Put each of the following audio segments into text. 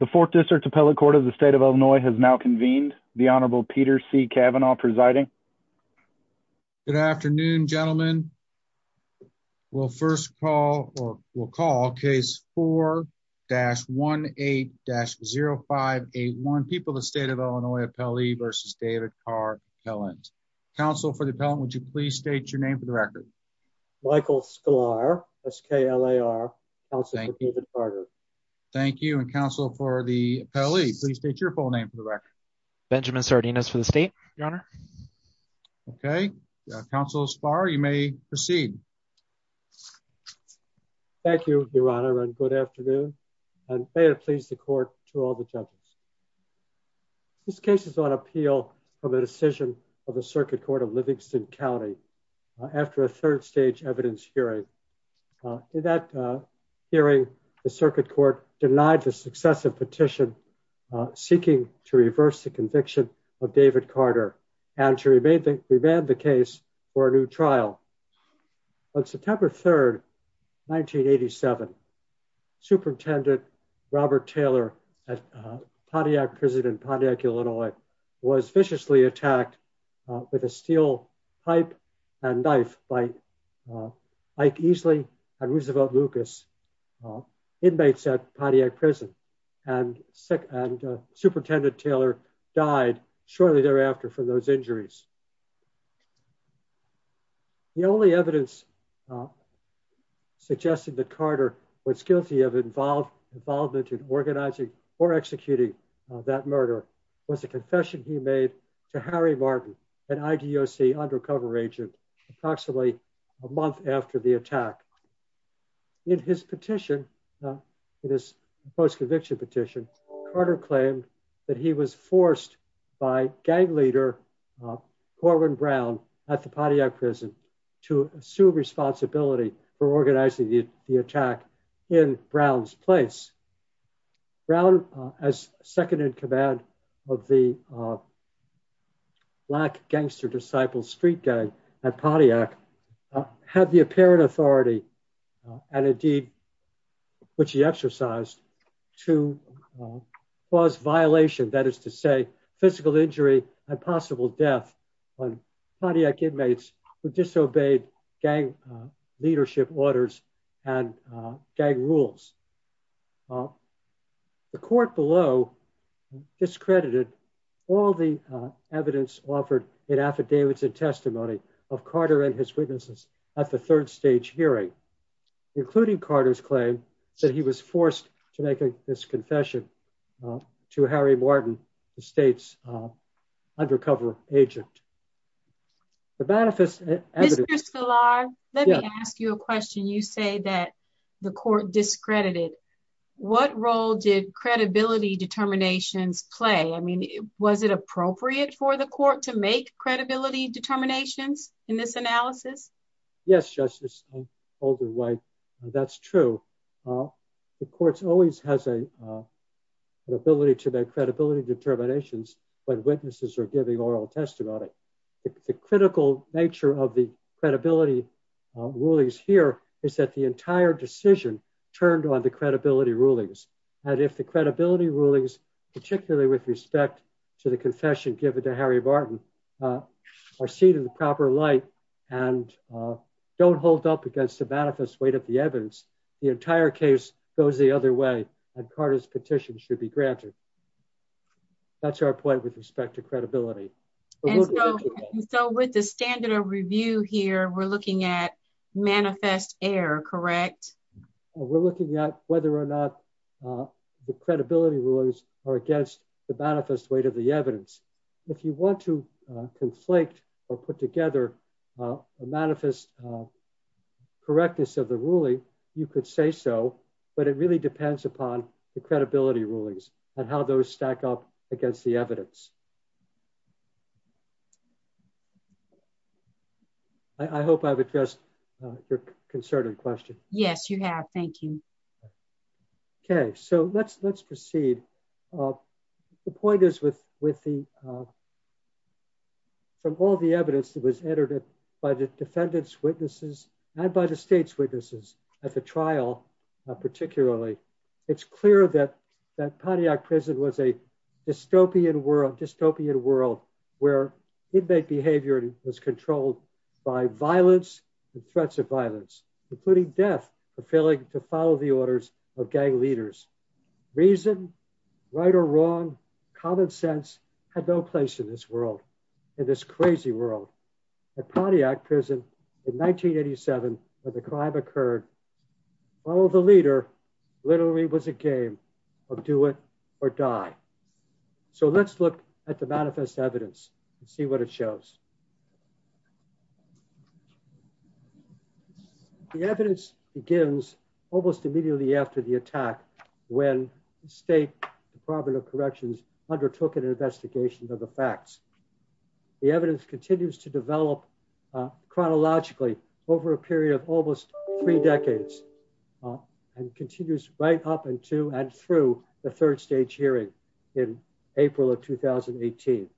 The fourth district appellate court of the state of Illinois has now convened the honorable Peter C. Cavanaugh presiding. Good afternoon, gentlemen. We'll first call or we'll call case 4-18-0581, People of the State of Illinois Appellee v. David Carr Appellant. Counsel for the appellant, would you please state your name for the record? Michael Sklar, S-K-L-A-R, counsel for David Carter. Thank you. And counsel for the appellee, please state your full name for the record. Benjamin Sardinas for the state, your honor. Okay. Counsel Sklar, you may proceed. Thank you, your honor, and good afternoon. And may it please the court to all the judges. This case is on appeal for the decision of the circuit court of Livingston County after a third stage evidence hearing. In that hearing, the circuit court denied the successive petition seeking to reverse the conviction of David Carter and to remand the case for a new trial. On September 3, 1987, Superintendent Robert Taylor at Pontiac Prison in Pontiac, Illinois, was viciously attacked with a steel pipe and knife by Ike Easley and Roosevelt Lucas, inmates at Pontiac Prison. And Superintendent Taylor died shortly thereafter from those injuries. The only evidence suggested that Carter was guilty of involvement in organizing or executing that murder was a confession he made to Harry Martin, an IDOC undercover agent, approximately a month after the attack. In his petition, in his post-conviction petition, Carter claimed that he was forced by gang leader Corwin Brown at the Pontiac Prison to assume responsibility for organizing the attack in Brown's place. Brown, as second-in-command of the Black Gangster Disciple Street Gang at Pontiac, had the apparent authority and a deed which he exercised to cause violation, that is to say, physical injury and possible death on Pontiac inmates who disobeyed gang leadership orders and gang rules. The court below discredited all the evidence offered in affidavits and testimony of Carter and his witnesses at the third stage hearing, including Carter's claim that he was forced to make this confession to Harry Martin, the state's undercover agent. The manifest evidence... Mr. Szilard, let me ask you a question. You say that the court discredited. What role did credibility determinations play? I mean, was it appropriate for the court to make credibility determinations in this analysis? Yes, Justice. That's true. The court always has an ability to make credibility determinations when witnesses are giving oral testimony. The critical nature of the credibility rulings here is that the entire decision turned on the credibility rulings. And if the credibility rulings, particularly with respect to the confession given to Harry Martin, are seen in the proper light and don't hold up against the manifest weight of the evidence, the entire case goes the other way and Carter's petition should be granted. That's our point with respect to credibility. And so with the standard of review here, we're looking at manifest error, correct? We're looking at whether or not the credibility rulings are against the manifest weight of the evidence. If you want to conflate or put together a manifest correctness of the ruling, you could say so, but it really depends upon the credibility rulings and how those stack up against the evidence. I hope I've addressed your concern and question. Yes, you have. Thank you. Okay. So let's proceed. The point is from all the evidence that was entered by the defendants' witnesses and by the state's witnesses at the trial particularly, it's clear that Pontiac prison was a dystopian world where inmate behavior was controlled by violence and threats of violence, including death for failing to follow the orders of gang leaders. Reason, right or wrong, common sense had no place in this world, in this crazy world. At Pontiac prison in 1987 when the crime occurred, follow the leader literally was a game of do it or die. So let's look at the manifest evidence and see what it shows. The evidence begins almost immediately after the attack when state department of corrections undertook an investigation of the facts. The evidence continues to develop chronologically over a period of almost three decades and continues right up into and through the third of 2018.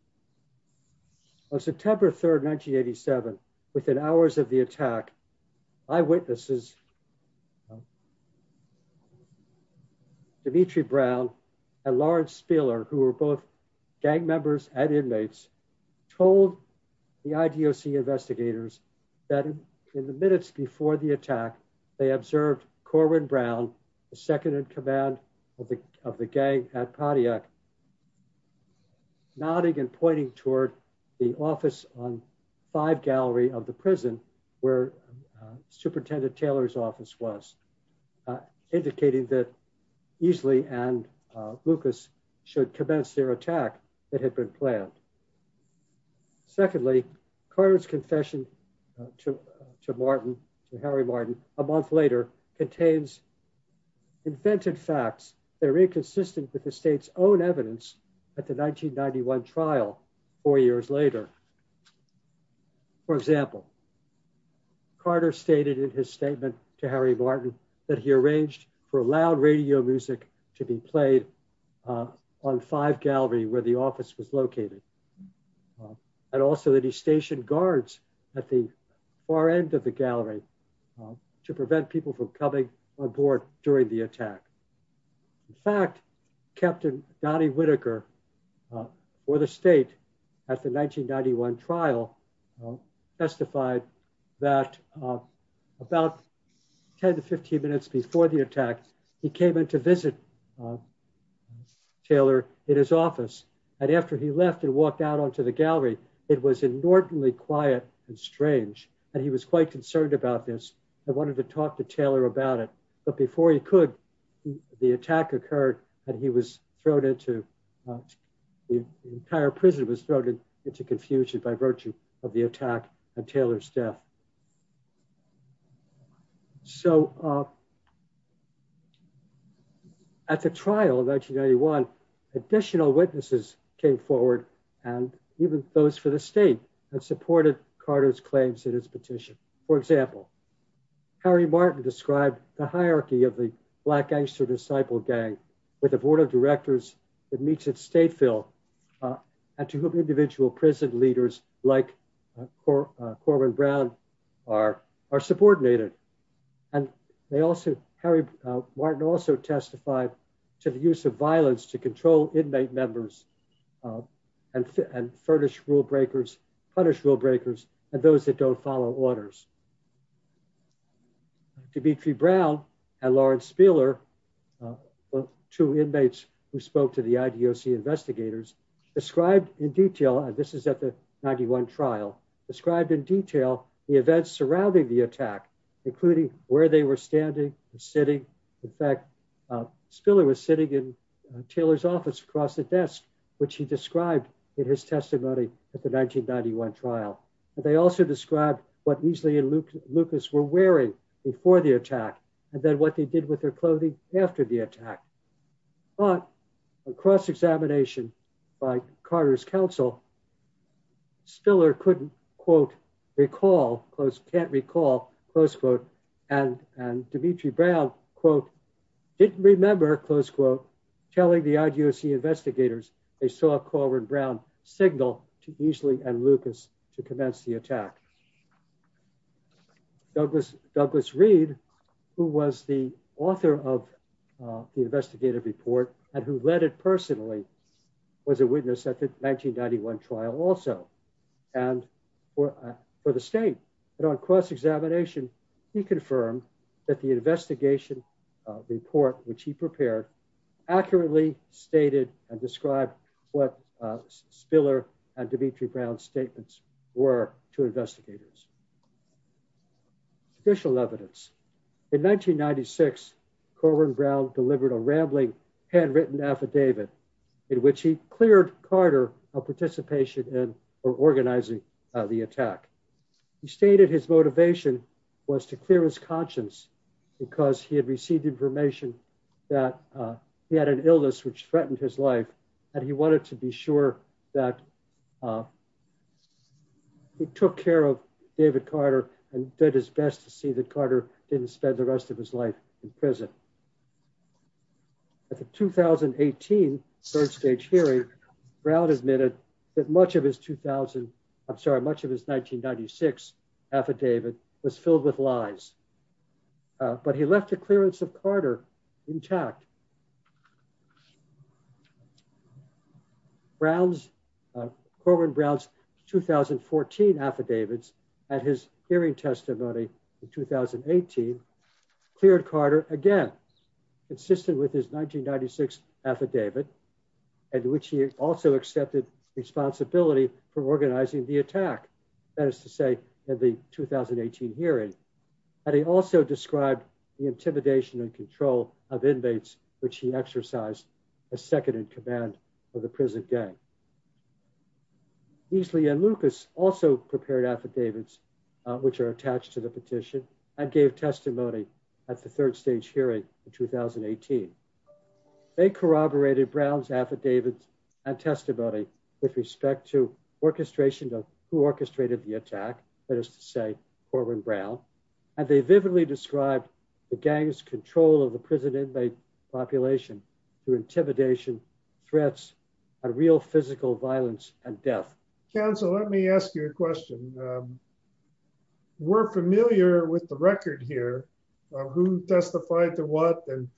On September 3, 1987, within hours of the attack, eyewitnesses, Demetre Brown and Lawrence Spiller who were both gang members and inmates, told the IDOC investigators that in the minutes before the attack, they observed Corwin Brown, the second in command of the gang at Pontiac, nodding and pointing toward the office on 5 gallery of the prison where Superintendent Taylor's office was, indicating that Easley and Lucas should commence their attack that had been planned. Secondly, Corwin's confession to Martin, to Harry Martin, a month later, contains invented facts that are inconsistent with the state's own evidence at the 1991 trial four years later. For example, Carter stated in his statement to Harry Martin that he arranged for loud radio music to be played on 5 gallery where the office was located. And also that he stationed guards at the far end of the gallery to prevent people from coming aboard during the attack. In fact, Captain Donnie Whitaker, for the state, at the 1991 trial, testified that about 10 to 15 minutes before the attack, he came in to visit Taylor in his office. And after he left and walked out on to the gallery, it was inordinately quiet and strange. And he was quite concerned about this and wanted to talk to Taylor about it. But before he could, the attack occurred and he was thrown into, the entire prison was thrown into confusion by virtue of the attack and Taylor's death. So, at the trial in 1991, additional witnesses came forward and even those for the state that supported Carter's claims in his petition. For example, Harry Martin described the hierarchy of the Black Gangster Disciple Gang with a board of directors that meets at Stateville and to whom individual prison leaders like Corwin Brown are subordinated. And they also, Harry Martin also testified to the use of violence to control inmate members and furnish rule breakers, punish rule breakers and those that don't follow orders. Demetre Brown and Lawrence Spiller, two inmates who spoke to the IDOC investigators, described in detail, and this is at the 91 trial, described in detail the events surrounding the attack, including where they were standing and sitting. In fact, Spiller was sitting in Taylor's office across the desk, which he described in his testimony at the 1991 trial. They also described what Easley and Lucas were wearing before the attack and then what they did with their clothing after the attack. But, across examination by Carter's counsel, Spiller couldn't, quote, recall, can't recall, close quote, and Demetre Brown, quote, didn't remember, close quote, telling the IDOC investigators they saw Corwin Brown signal to Easley and Lucas to commence the attack. Douglas Reed, who was the author of the investigative report and who led it personally, was a witness at the 1991 trial also. And for the state, but on cross-examination, he confirmed that the investigation report which he prepared accurately stated and described what Spiller and Demetre Brown's statements were to investigators. Official evidence. In 1996, Corwin Brown delivered a rambling handwritten affidavit in which he cleared Carter of participation in or organizing the attack. He stated his motivation was to clear his conscience because he had received information that he had an illness which threatened his life and he wanted to be sure that he took care of David Carter and did his best to see that Carter didn't spend the rest of his life in prison. At the 2018 third stage hearing, Brown admitted that much of his 2000, I'm sorry, much of his 1996 affidavit was filled with lies. But he left the clearance of Carter intact. Brown's, Corwin Brown's 2014 affidavits at his hearing testimony in 2018 cleared Carter again. Consistent with his 1996 affidavit and which he also accepted responsibility for organizing the attack. That is to say at the 2018 hearing. And he also described the intimidation and control of inmates which he exercised as second in command of the prison gang. Easley and Lucas also prepared affidavits which are attached to the petition and gave testimony at the third stage hearing in 2018. They corroborated Brown's affidavits and testimony with respect to orchestration of who orchestrated the attack. That is to say, Corwin Brown. And they vividly described the gang's control of the prison inmate population through intimidation, threats, and real physical violence and death. Counsel, let me ask you a question. We're familiar with the record here of who testified to what and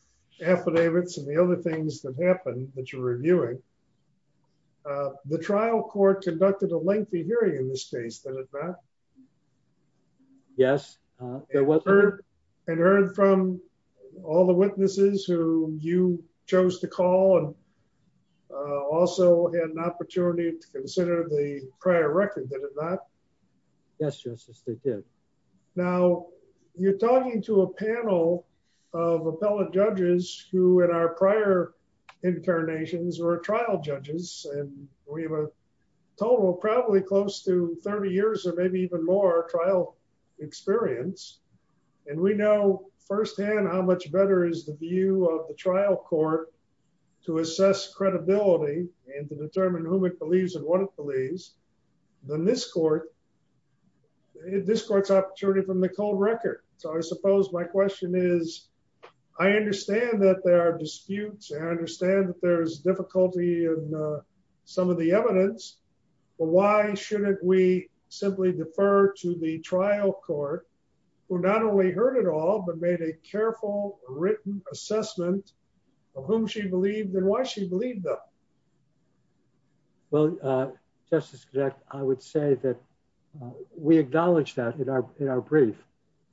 the other things that happened that you're reviewing. The trial court conducted a lengthy hearing in this case, did it not? Yes, there was. And heard from all the witnesses who you chose to call and also had an opportunity to consider the prior record, did it not? Yes, Justice, they did. Now, you're talking to a panel of appellate judges who in our prior incarnations were trial judges and we have a total probably close to 30 years or maybe even more trial experience. And we know firsthand how much better is the view of the trial court to assess credibility and to determine whom it believes and what it believes than this court, this court's opportunity from the cold record. So I suppose my question is, I understand that there are disputes, I understand that there's difficulty in some of the evidence, but why shouldn't we simply defer to the trial court, who not only heard it all, but made a careful written assessment of whom she believed and why she believed them? Well, Justice, I would say that we acknowledge that in our brief,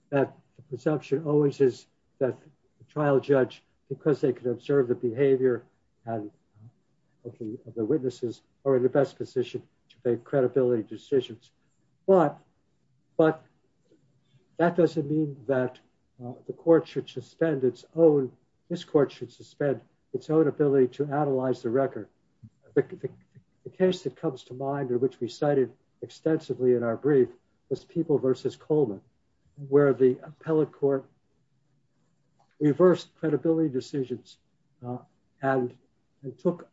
that the presumption always is that the trial judge, because they could observe the behavior and the witnesses are in the best position to make credibility decisions. But that doesn't mean that the court should suspend its own, this court should suspend its own ability to analyze the record. The case that comes to mind or which we cited extensively in our brief was People versus Coleman, where the appellate court reversed credibility decisions and took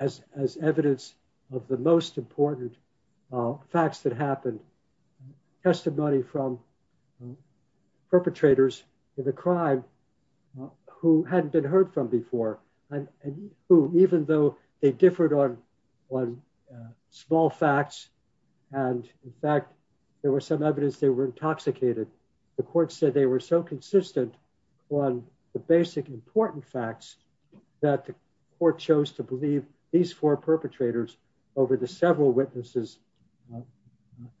as evidence of the most important facts that happened. Testimony from perpetrators in the crime who hadn't been heard from before, and who, even though they differed on small facts, and in fact, there was some evidence they were intoxicated, the court said they were so consistent on the basic important facts that the court chose to believe these four perpetrators over the several witnesses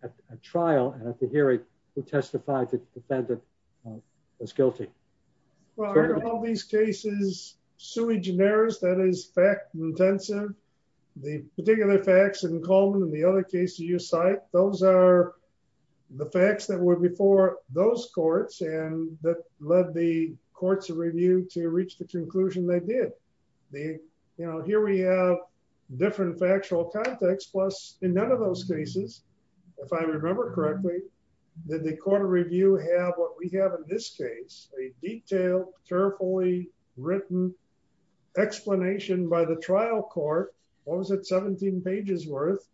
at a trial and at the hearing who testified that the defendant was guilty. Well, in all these cases, sui generis, that is fact intensive. The particular facts in Coleman and the other cases you cite, those are the facts that were before those courts and that led the courts to review to reach the conclusion they did. Here we have different factual context plus in none of those cases, if I remember correctly, did the court of review have what we have in this case, a detailed, carefully written explanation by the trial court, what was it, 17 pages worth,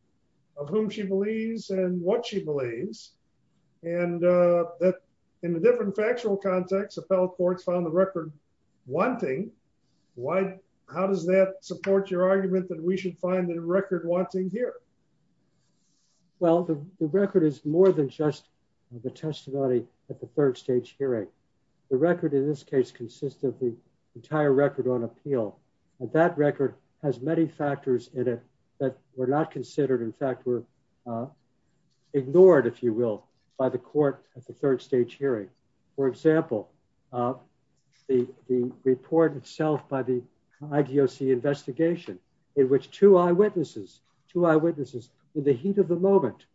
of whom she believes and what she believes. And that in a different factual context, appellate courts found the record wanting. How does that support your argument that we should find the record wanting here? Well, the record is more than just the testimony at the third stage hearing. The record in this case consists of the entire record on appeal, and that record has many factors in it that were not considered, in fact, were ignored, if you will, by the court at the third stage hearing. For example, the report itself by the IDOC investigation, in which two eyewitnesses, two eyewitnesses, in the heat of the moment,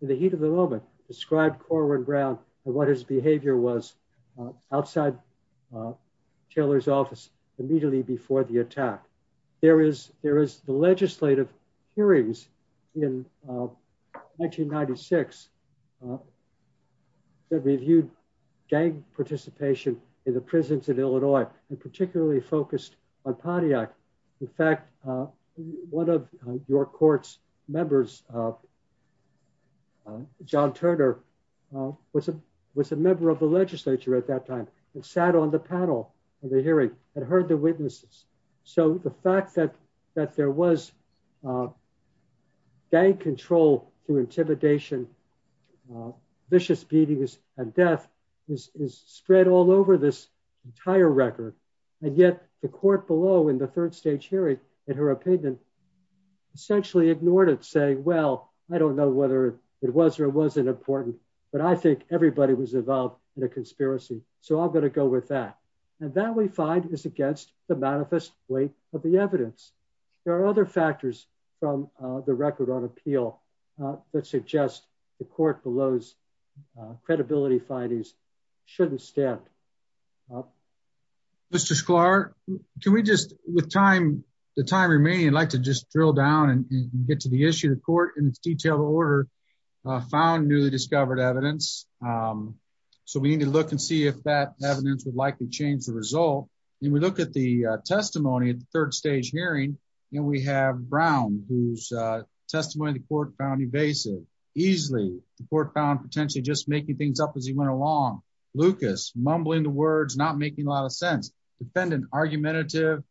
in the heat of the moment, described Corwin Brown and what his behavior was outside Taylor's office immediately before the attack. There is the legislative hearings in 1996 that reviewed gang participation in the prisons of Illinois, and particularly focused on Pontiac. In fact, one of your court's members, John Turner, was a member of the legislature at that time and sat on the panel of the hearing and heard the witnesses. So the fact that there was gang control through intimidation, vicious beatings, and death is spread all over this entire record, and yet the court below in the third stage hearing, in her opinion, essentially ignored it, saying, well, I don't know whether it was or wasn't important, but I think everybody was involved in a conspiracy, so I'm going to go with that. And that, we find, is against the manifest weight of the evidence. There are other factors from the record on appeal that suggest the court below's credibility findings shouldn't stand. Mr. Sklar, can we just, with time, the time remaining, I'd like to just drill down and get to the issue. The court, in its detailed order, found newly discovered evidence, so we need to look and see if that evidence would likely change the result. And we look at the testimony at the third stage hearing, and we have Brown, whose testimony the court found evasive. Easily, the court found potentially just making things up as he went along. Lucas, mumbling the words, not making a lot of sense. Defendant, argumentative,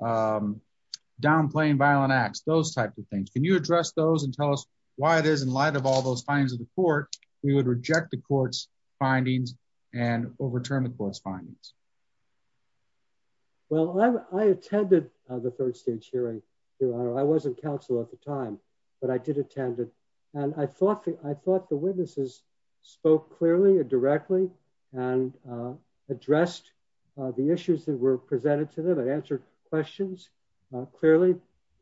downplaying violent acts, those types of things. Can you address those and tell us why it is, in light of all those findings of the court, we would reject the court's findings and overturn the court's findings? Well, I attended the third stage hearing. I wasn't counsel at the time, but I did attend it. And I thought the witnesses spoke clearly and directly and addressed the issues that were presented to them and answered questions clearly.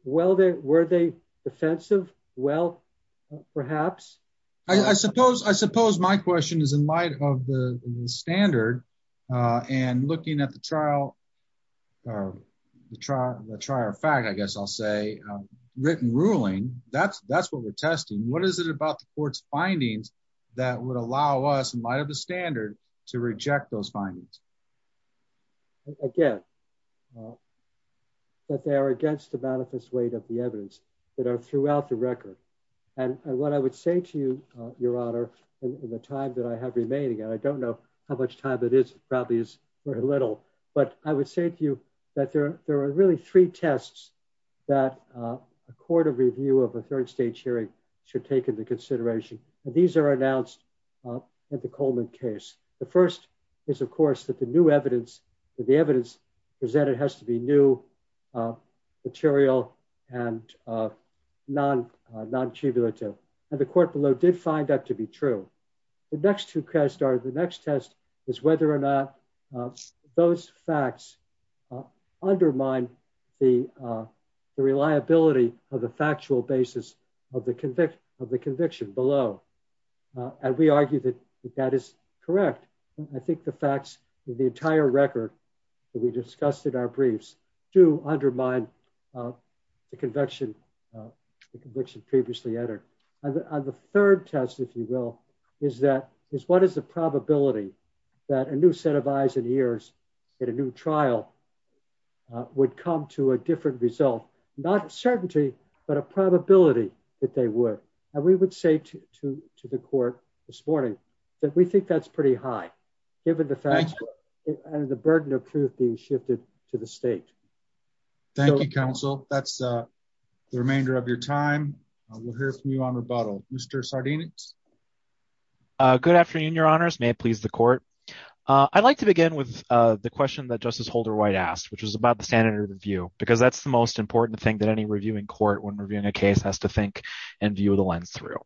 Were they defensive? Well, perhaps. I suppose my question is, in light of the standard and looking at the trial fact, I guess I'll say, written ruling, that's what we're testing. What is it about the court's findings that would allow us, in light of the standard, to reject those of the evidence that are throughout the record? And what I would say to you, Your Honor, in the time that I have remaining, and I don't know how much time it is, probably is very little, but I would say to you that there are really three tests that a court of review of a third stage hearing should take into consideration. And these are announced at the Coleman case. The first is, of course, that the evidence presented has to be new, material, and non-tribulative. And the court below did find that to be true. The next test is whether or not those facts undermine the reliability of the factual basis of the conviction below. And we argue that that is correct. I think the facts of the entire record that we discussed in our briefs do undermine the conviction previously entered. And the third test, if you will, is what is the probability that a new set of eyes and ears at a new trial would come to a different result? Not a certainty, but a probability that they would. And we would say to the court this morning that we think that's pretty high given the facts and the burden of truth being shifted to the state. Thank you, counsel. That's the remainder of your time. We'll hear from you on rebuttal. Mr. Sardinic. Good afternoon, your honors. May it please the court. I'd like to begin with the question that Justice Holder-White asked, which was about the standard of view, because that's the most important thing that any reviewing court when reviewing a case has to think and view the lens through.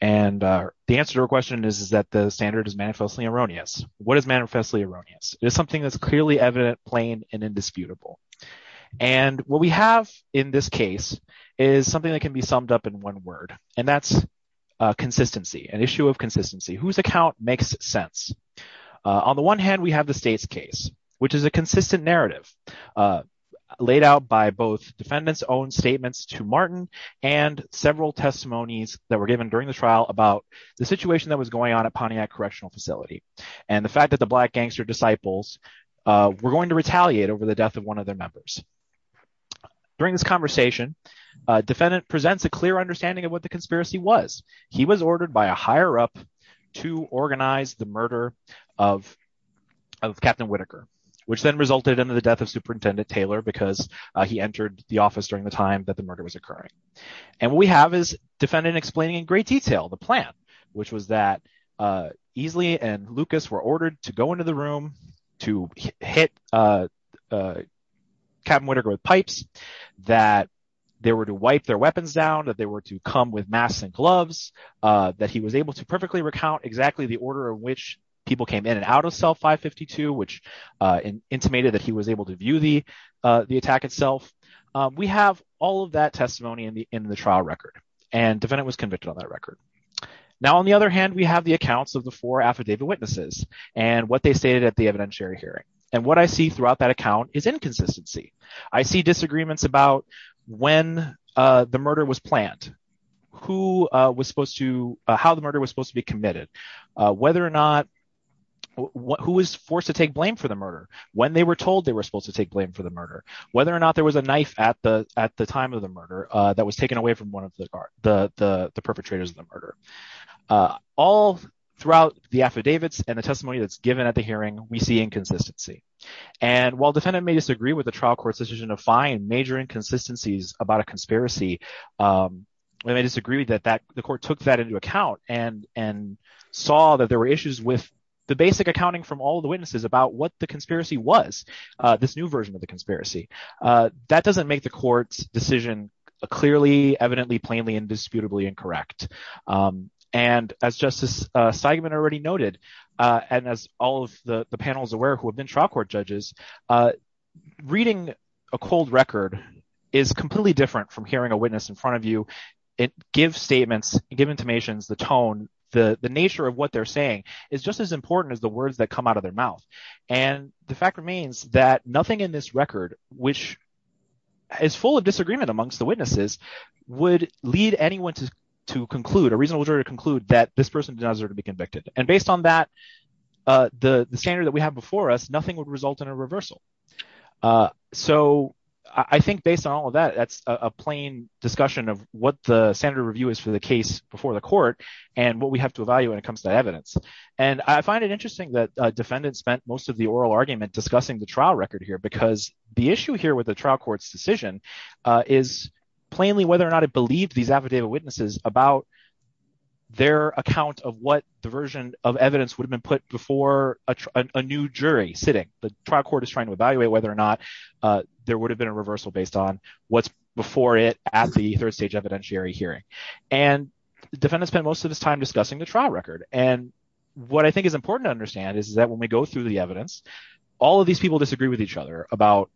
And the answer to her question is that the standard is manifestly erroneous. What is manifestly erroneous? It is something that's clearly evident, plain, and indisputable. And what we have in this case is something that can be summed up in one word, and that's consistency, an issue of consistency. Whose account makes sense? On the one hand, we have the state's case, which is a consistent narrative laid out by both defendants' own about the situation that was going on at Pontiac Correctional Facility and the fact that the Black gangster disciples were going to retaliate over the death of one of their members. During this conversation, defendant presents a clear understanding of what the conspiracy was. He was ordered by a higher-up to organize the murder of Captain Whitaker, which then resulted in the death of Superintendent Taylor because he entered the office during the time that the murder was occurring. And what we have is defendant explaining in great detail the plan, which was that Easley and Lucas were ordered to go into the room to hit Captain Whitaker with pipes, that they were to wipe their weapons down, that they were to come with masks and gloves, that he was able to perfectly recount exactly the order in which people came in and out of cell 552, which intimated that he was able to view the attack itself. We have all of that testimony in the trial record, and defendant was convicted on that record. Now, on the other hand, we have the accounts of the four affidavit witnesses and what they stated at the evidentiary hearing. And what I see throughout that account is inconsistency. I see disagreements about when the murder was planned, who was supposed to, how the murder was supposed to be committed, whether or not, who was forced to take blame for the murder, when they were told they were supposed to take blame for the murder, whether or not there was a knife at the time of the murder that was taken away from one of the perpetrators of the murder. All throughout the affidavits and the testimony that's given at the hearing, we see inconsistency. And while defendant may disagree with the trial court's decision to find major inconsistencies about a conspiracy, they may disagree that the with the basic accounting from all the witnesses about what the conspiracy was, this new version of the conspiracy. That doesn't make the court's decision clearly, evidently, plainly, indisputably incorrect. And as Justice Steigman already noted, and as all of the panels aware who have been trial court judges, reading a cold record is completely different from hearing a witness in front of you. It gives statements, give intimations, the tone, the nature of what they're saying is just as important as the words that come out of their mouth. And the fact remains that nothing in this record, which is full of disagreement amongst the witnesses, would lead anyone to conclude, a reasonable jury to conclude that this person does not deserve to be convicted. And based on that, the standard that we have before us, nothing would result in a reversal. So I think based on all of that, that's a plain discussion of what the standard review is for the case before the court, and what we have to evaluate when it comes to evidence. And I find it interesting that defendants spent most of the oral argument discussing the trial record here, because the issue here with the trial court's decision is plainly whether or not it believed these affidavit witnesses about their account of what the version of evidence would have been put before a new jury sitting. The trial court is trying to evaluate whether or not there would have been a defendant spent most of his time discussing the trial record. And what I think is important to understand is that when we go through the evidence, all of these people disagree with each other about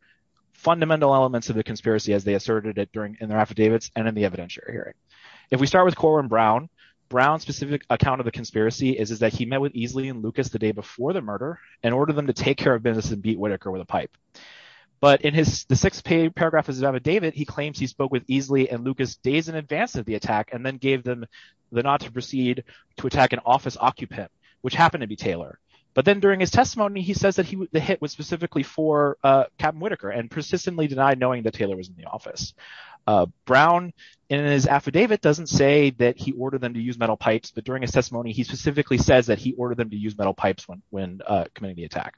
fundamental elements of the conspiracy as they asserted it during in their affidavits and in the evidentiary hearing. If we start with Corwin Brown, Brown's specific account of the conspiracy is that he met with Easley and Lucas the day before the murder, and ordered them to take care of business and beat Whitaker with a pipe. But in the sixth paragraph of his affidavit, he claims he spoke with Easley and Lucas days in advance of the attack and then gave them the nod to proceed to attack an office occupant, which happened to be Taylor. But then during his testimony, he says that the hit was specifically for Captain Whitaker and persistently denied knowing that Taylor was in the office. Brown, in his affidavit, doesn't say that he ordered them to use metal pipes, but during his testimony, he specifically says that he ordered them to use metal pipes when committing the attack.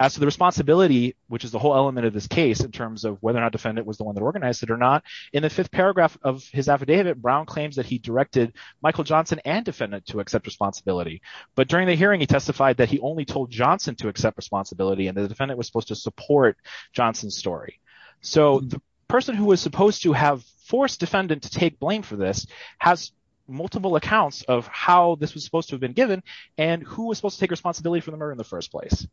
As to the responsibility, which is the whole element of this case in terms of whether or not defendant was the one that organized it or not, in the fifth paragraph of his affidavit, Brown claims that he directed Michael Johnson and defendant to accept responsibility. But during the hearing, he testified that he only told Johnson to accept responsibility and the defendant was supposed to support Johnson's story. So the person who was supposed to have forced defendant to take blame for this has multiple accounts of how this was supposed to have been given and who was supposed to take responsibility for the murder in the first place.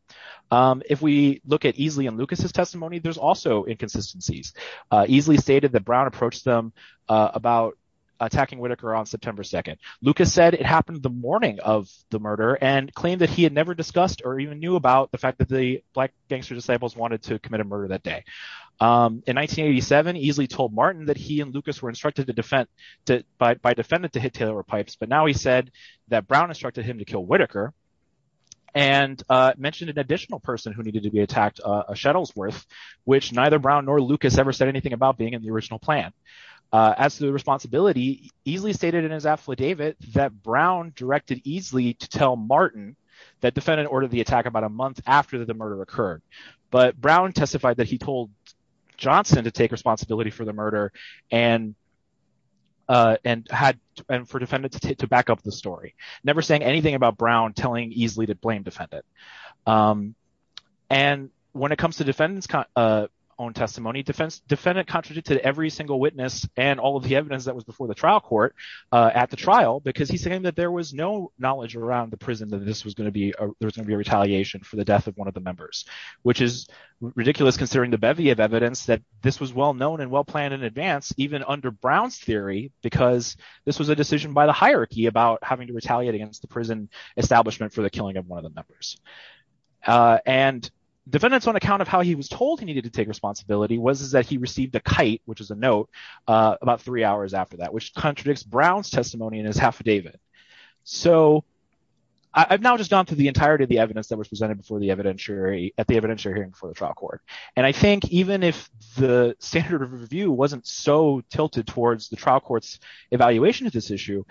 If we look at Easley and Lucas's testimony, there's also inconsistencies. Easley stated that Brown approached them about attacking Whitaker on September 2nd. Lucas said it happened the morning of the murder and claimed that he had never discussed or even knew about the fact that the Black gangster disciples wanted to commit a murder that day. In 1987, Easley told Martin that he and Lucas were instructed by defendant to hit Taylor with pipes, but now he said that Brown instructed him to kill Whitaker and mentioned an additional person who needed to be attacked at Shettlesworth, which neither Brown nor Lucas ever said anything about being in the original plan. As to the responsibility, Easley stated in his affidavit that Brown directed Easley to tell Martin that defendant ordered the attack about a month after the murder occurred, but Brown testified that he told Johnson to take responsibility for the murder and for defendant to back up the story, never saying anything about Brown telling Easley to blame defendant. And when it comes to defendant's own testimony, defendant contradicted every single witness and all of the evidence that was before the trial court at the trial because he said that there was no knowledge around the prison that there was going to be a retaliation for the death of one of the members, which is ridiculous considering the bevy of evidence that this was well known and well planned in advance even under Brown's theory because this was a decision by the hierarchy about having to retaliate against the prison establishment for the killing of one of the members. And defendant's own account of how he was told he needed to take responsibility was that he received a kite, which is a note, about three hours after that, which contradicts Brown's testimony in his affidavit. So I've now just gone through the entirety of the evidence that was presented at the evidentiary hearing for the trial court, and I think even if the standard of review wasn't so tilted towards the trial court's evaluation of this issue,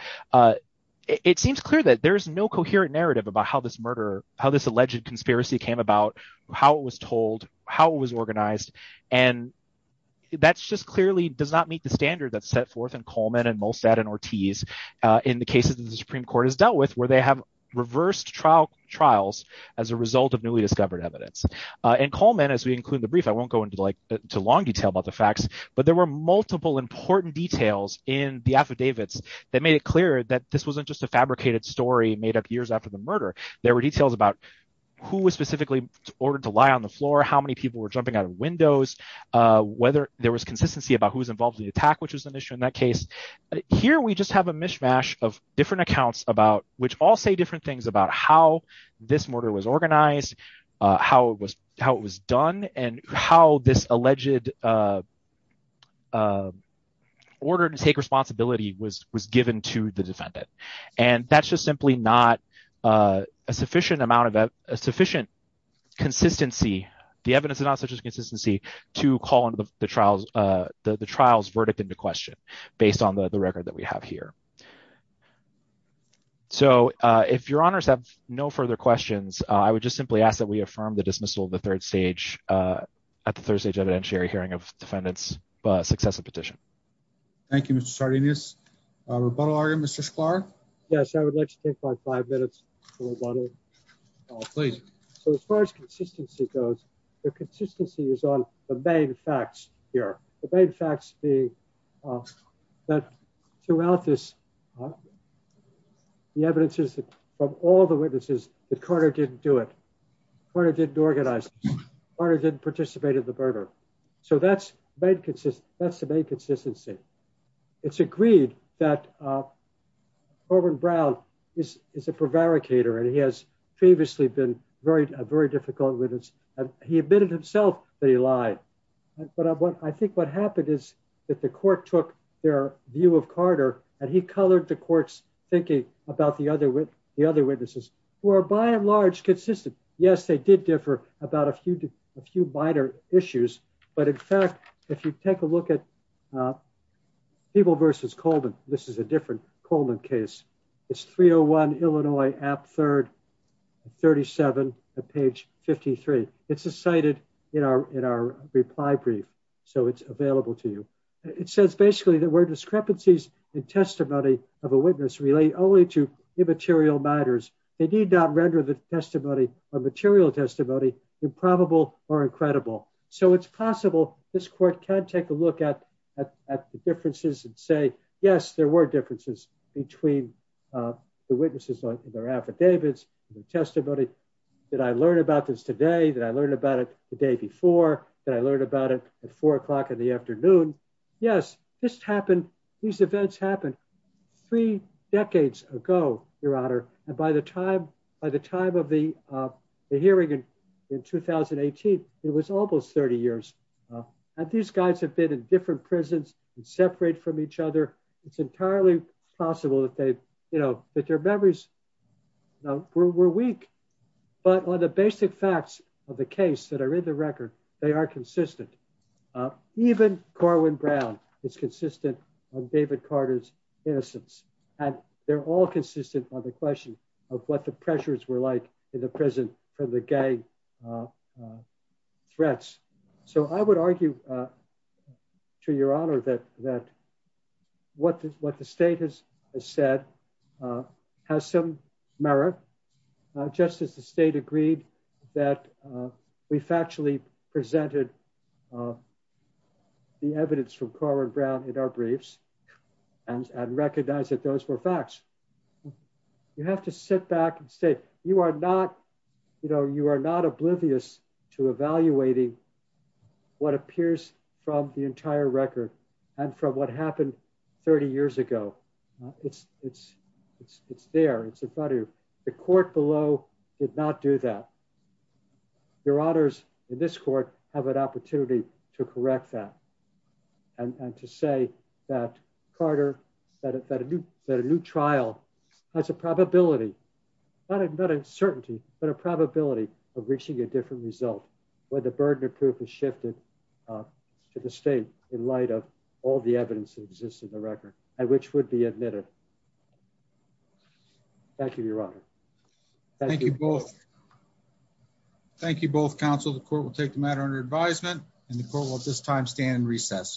it seems clear that there's no coherent narrative about how this murder, how this alleged conspiracy came about, how it was told, how it was organized, and that just clearly does not meet the standard that's set forth in Coleman and Molstad and Ortiz in the cases that the Supreme Court has dealt with where they have reversed trial trials as a result of newly discovered evidence. In Coleman, as we include in the brief, I won't go into like too long detail about the facts, but there were multiple important details in the affidavits that made it clear that this wasn't just a fabricated story made up years after the murder. There were details about who was specifically ordered to lie on the floor, how many people were jumping out of windows, whether there was consistency about who was involved in the attack, which was an issue in that case. Here we just have a mishmash of different accounts about, which all say different things about how this murder was organized, how it was done, and how this alleged order to take responsibility was given to the defendant. And that's just simply not a sufficient amount of, a sufficient consistency, the evidence is not such a consistency to call into the trial's verdict into question based on the record that we have here. So if your honors have no further questions, I would just simply ask that we affirm the dismissal at the third stage evidentiary hearing of defendant's successive petition. Thank you, Mr. Sardinius. Rebuttal argument, Mr. Sklar? Yes, I would like to take my five minutes for rebuttal. Oh, please. So as far as consistency goes, the consistency is on the main facts here. The main facts being that throughout this, the evidence is that from all the witnesses, the coroner didn't do it. Coroner didn't organize it. Coroner didn't participate in the murder. So that's the main consistency. It's agreed that Orvin Brown is a prevaricator, and he has previously been a very difficult witness. He admitted himself that he lied. But I think what happened is that the court took their view of coroner, and he colored the court's thinking about the other witnesses, who are by and large consistent. Yes, they did differ about a few minor issues. But in fact, if you take a look at Peeble versus Coleman, this is a different Coleman case. It's 301 Illinois App 3rd, 37 at page 53. It's cited in our reply brief. So it's available to you. It says basically that where discrepancies in testimony of a witness relate only to the evidence, they need not render the testimony or material testimony improbable or incredible. So it's possible this court can take a look at the differences and say, yes, there were differences between the witnesses and their affidavits and their testimony. Did I learn about this today? Did I learn about it the day before? Did I learn about it at four o'clock in the afternoon? Yes, this happened. These events happened three decades ago, Your Honor. And by the time of the hearing in 2018, it was almost 30 years. And these guys have been in different prisons and separate from each other. It's entirely possible that their memories were weak. But on the basic facts of the case that are in the record, they are consistent. Even Corwin Brown is consistent on David Carter's innocence. And they're all consistent on the question of what the pressures were like in the prison for the gang threats. So I would argue to Your Honor that what the state has said has some merit, just as the state agreed that we factually presented the evidence from Corwin Brown in our briefs and recognize that those were facts. You have to sit back and say, you are not oblivious to evaluating what appears from the entire record and from what happened 30 years ago. It's there. The court below did not do that. Your Honors, in this court, have an opportunity to correct that and to say that Carter, that a new trial has a probability, not an uncertainty, but a probability of reaching a different result when the burden of proof is shifted to the state in light of all the evidence that exists in the record and which would be admitted. Thank you, Your Honor. Thank you both. Thank you both. Counsel, the court will take the matter under advisement and the court will at this time stand in recess.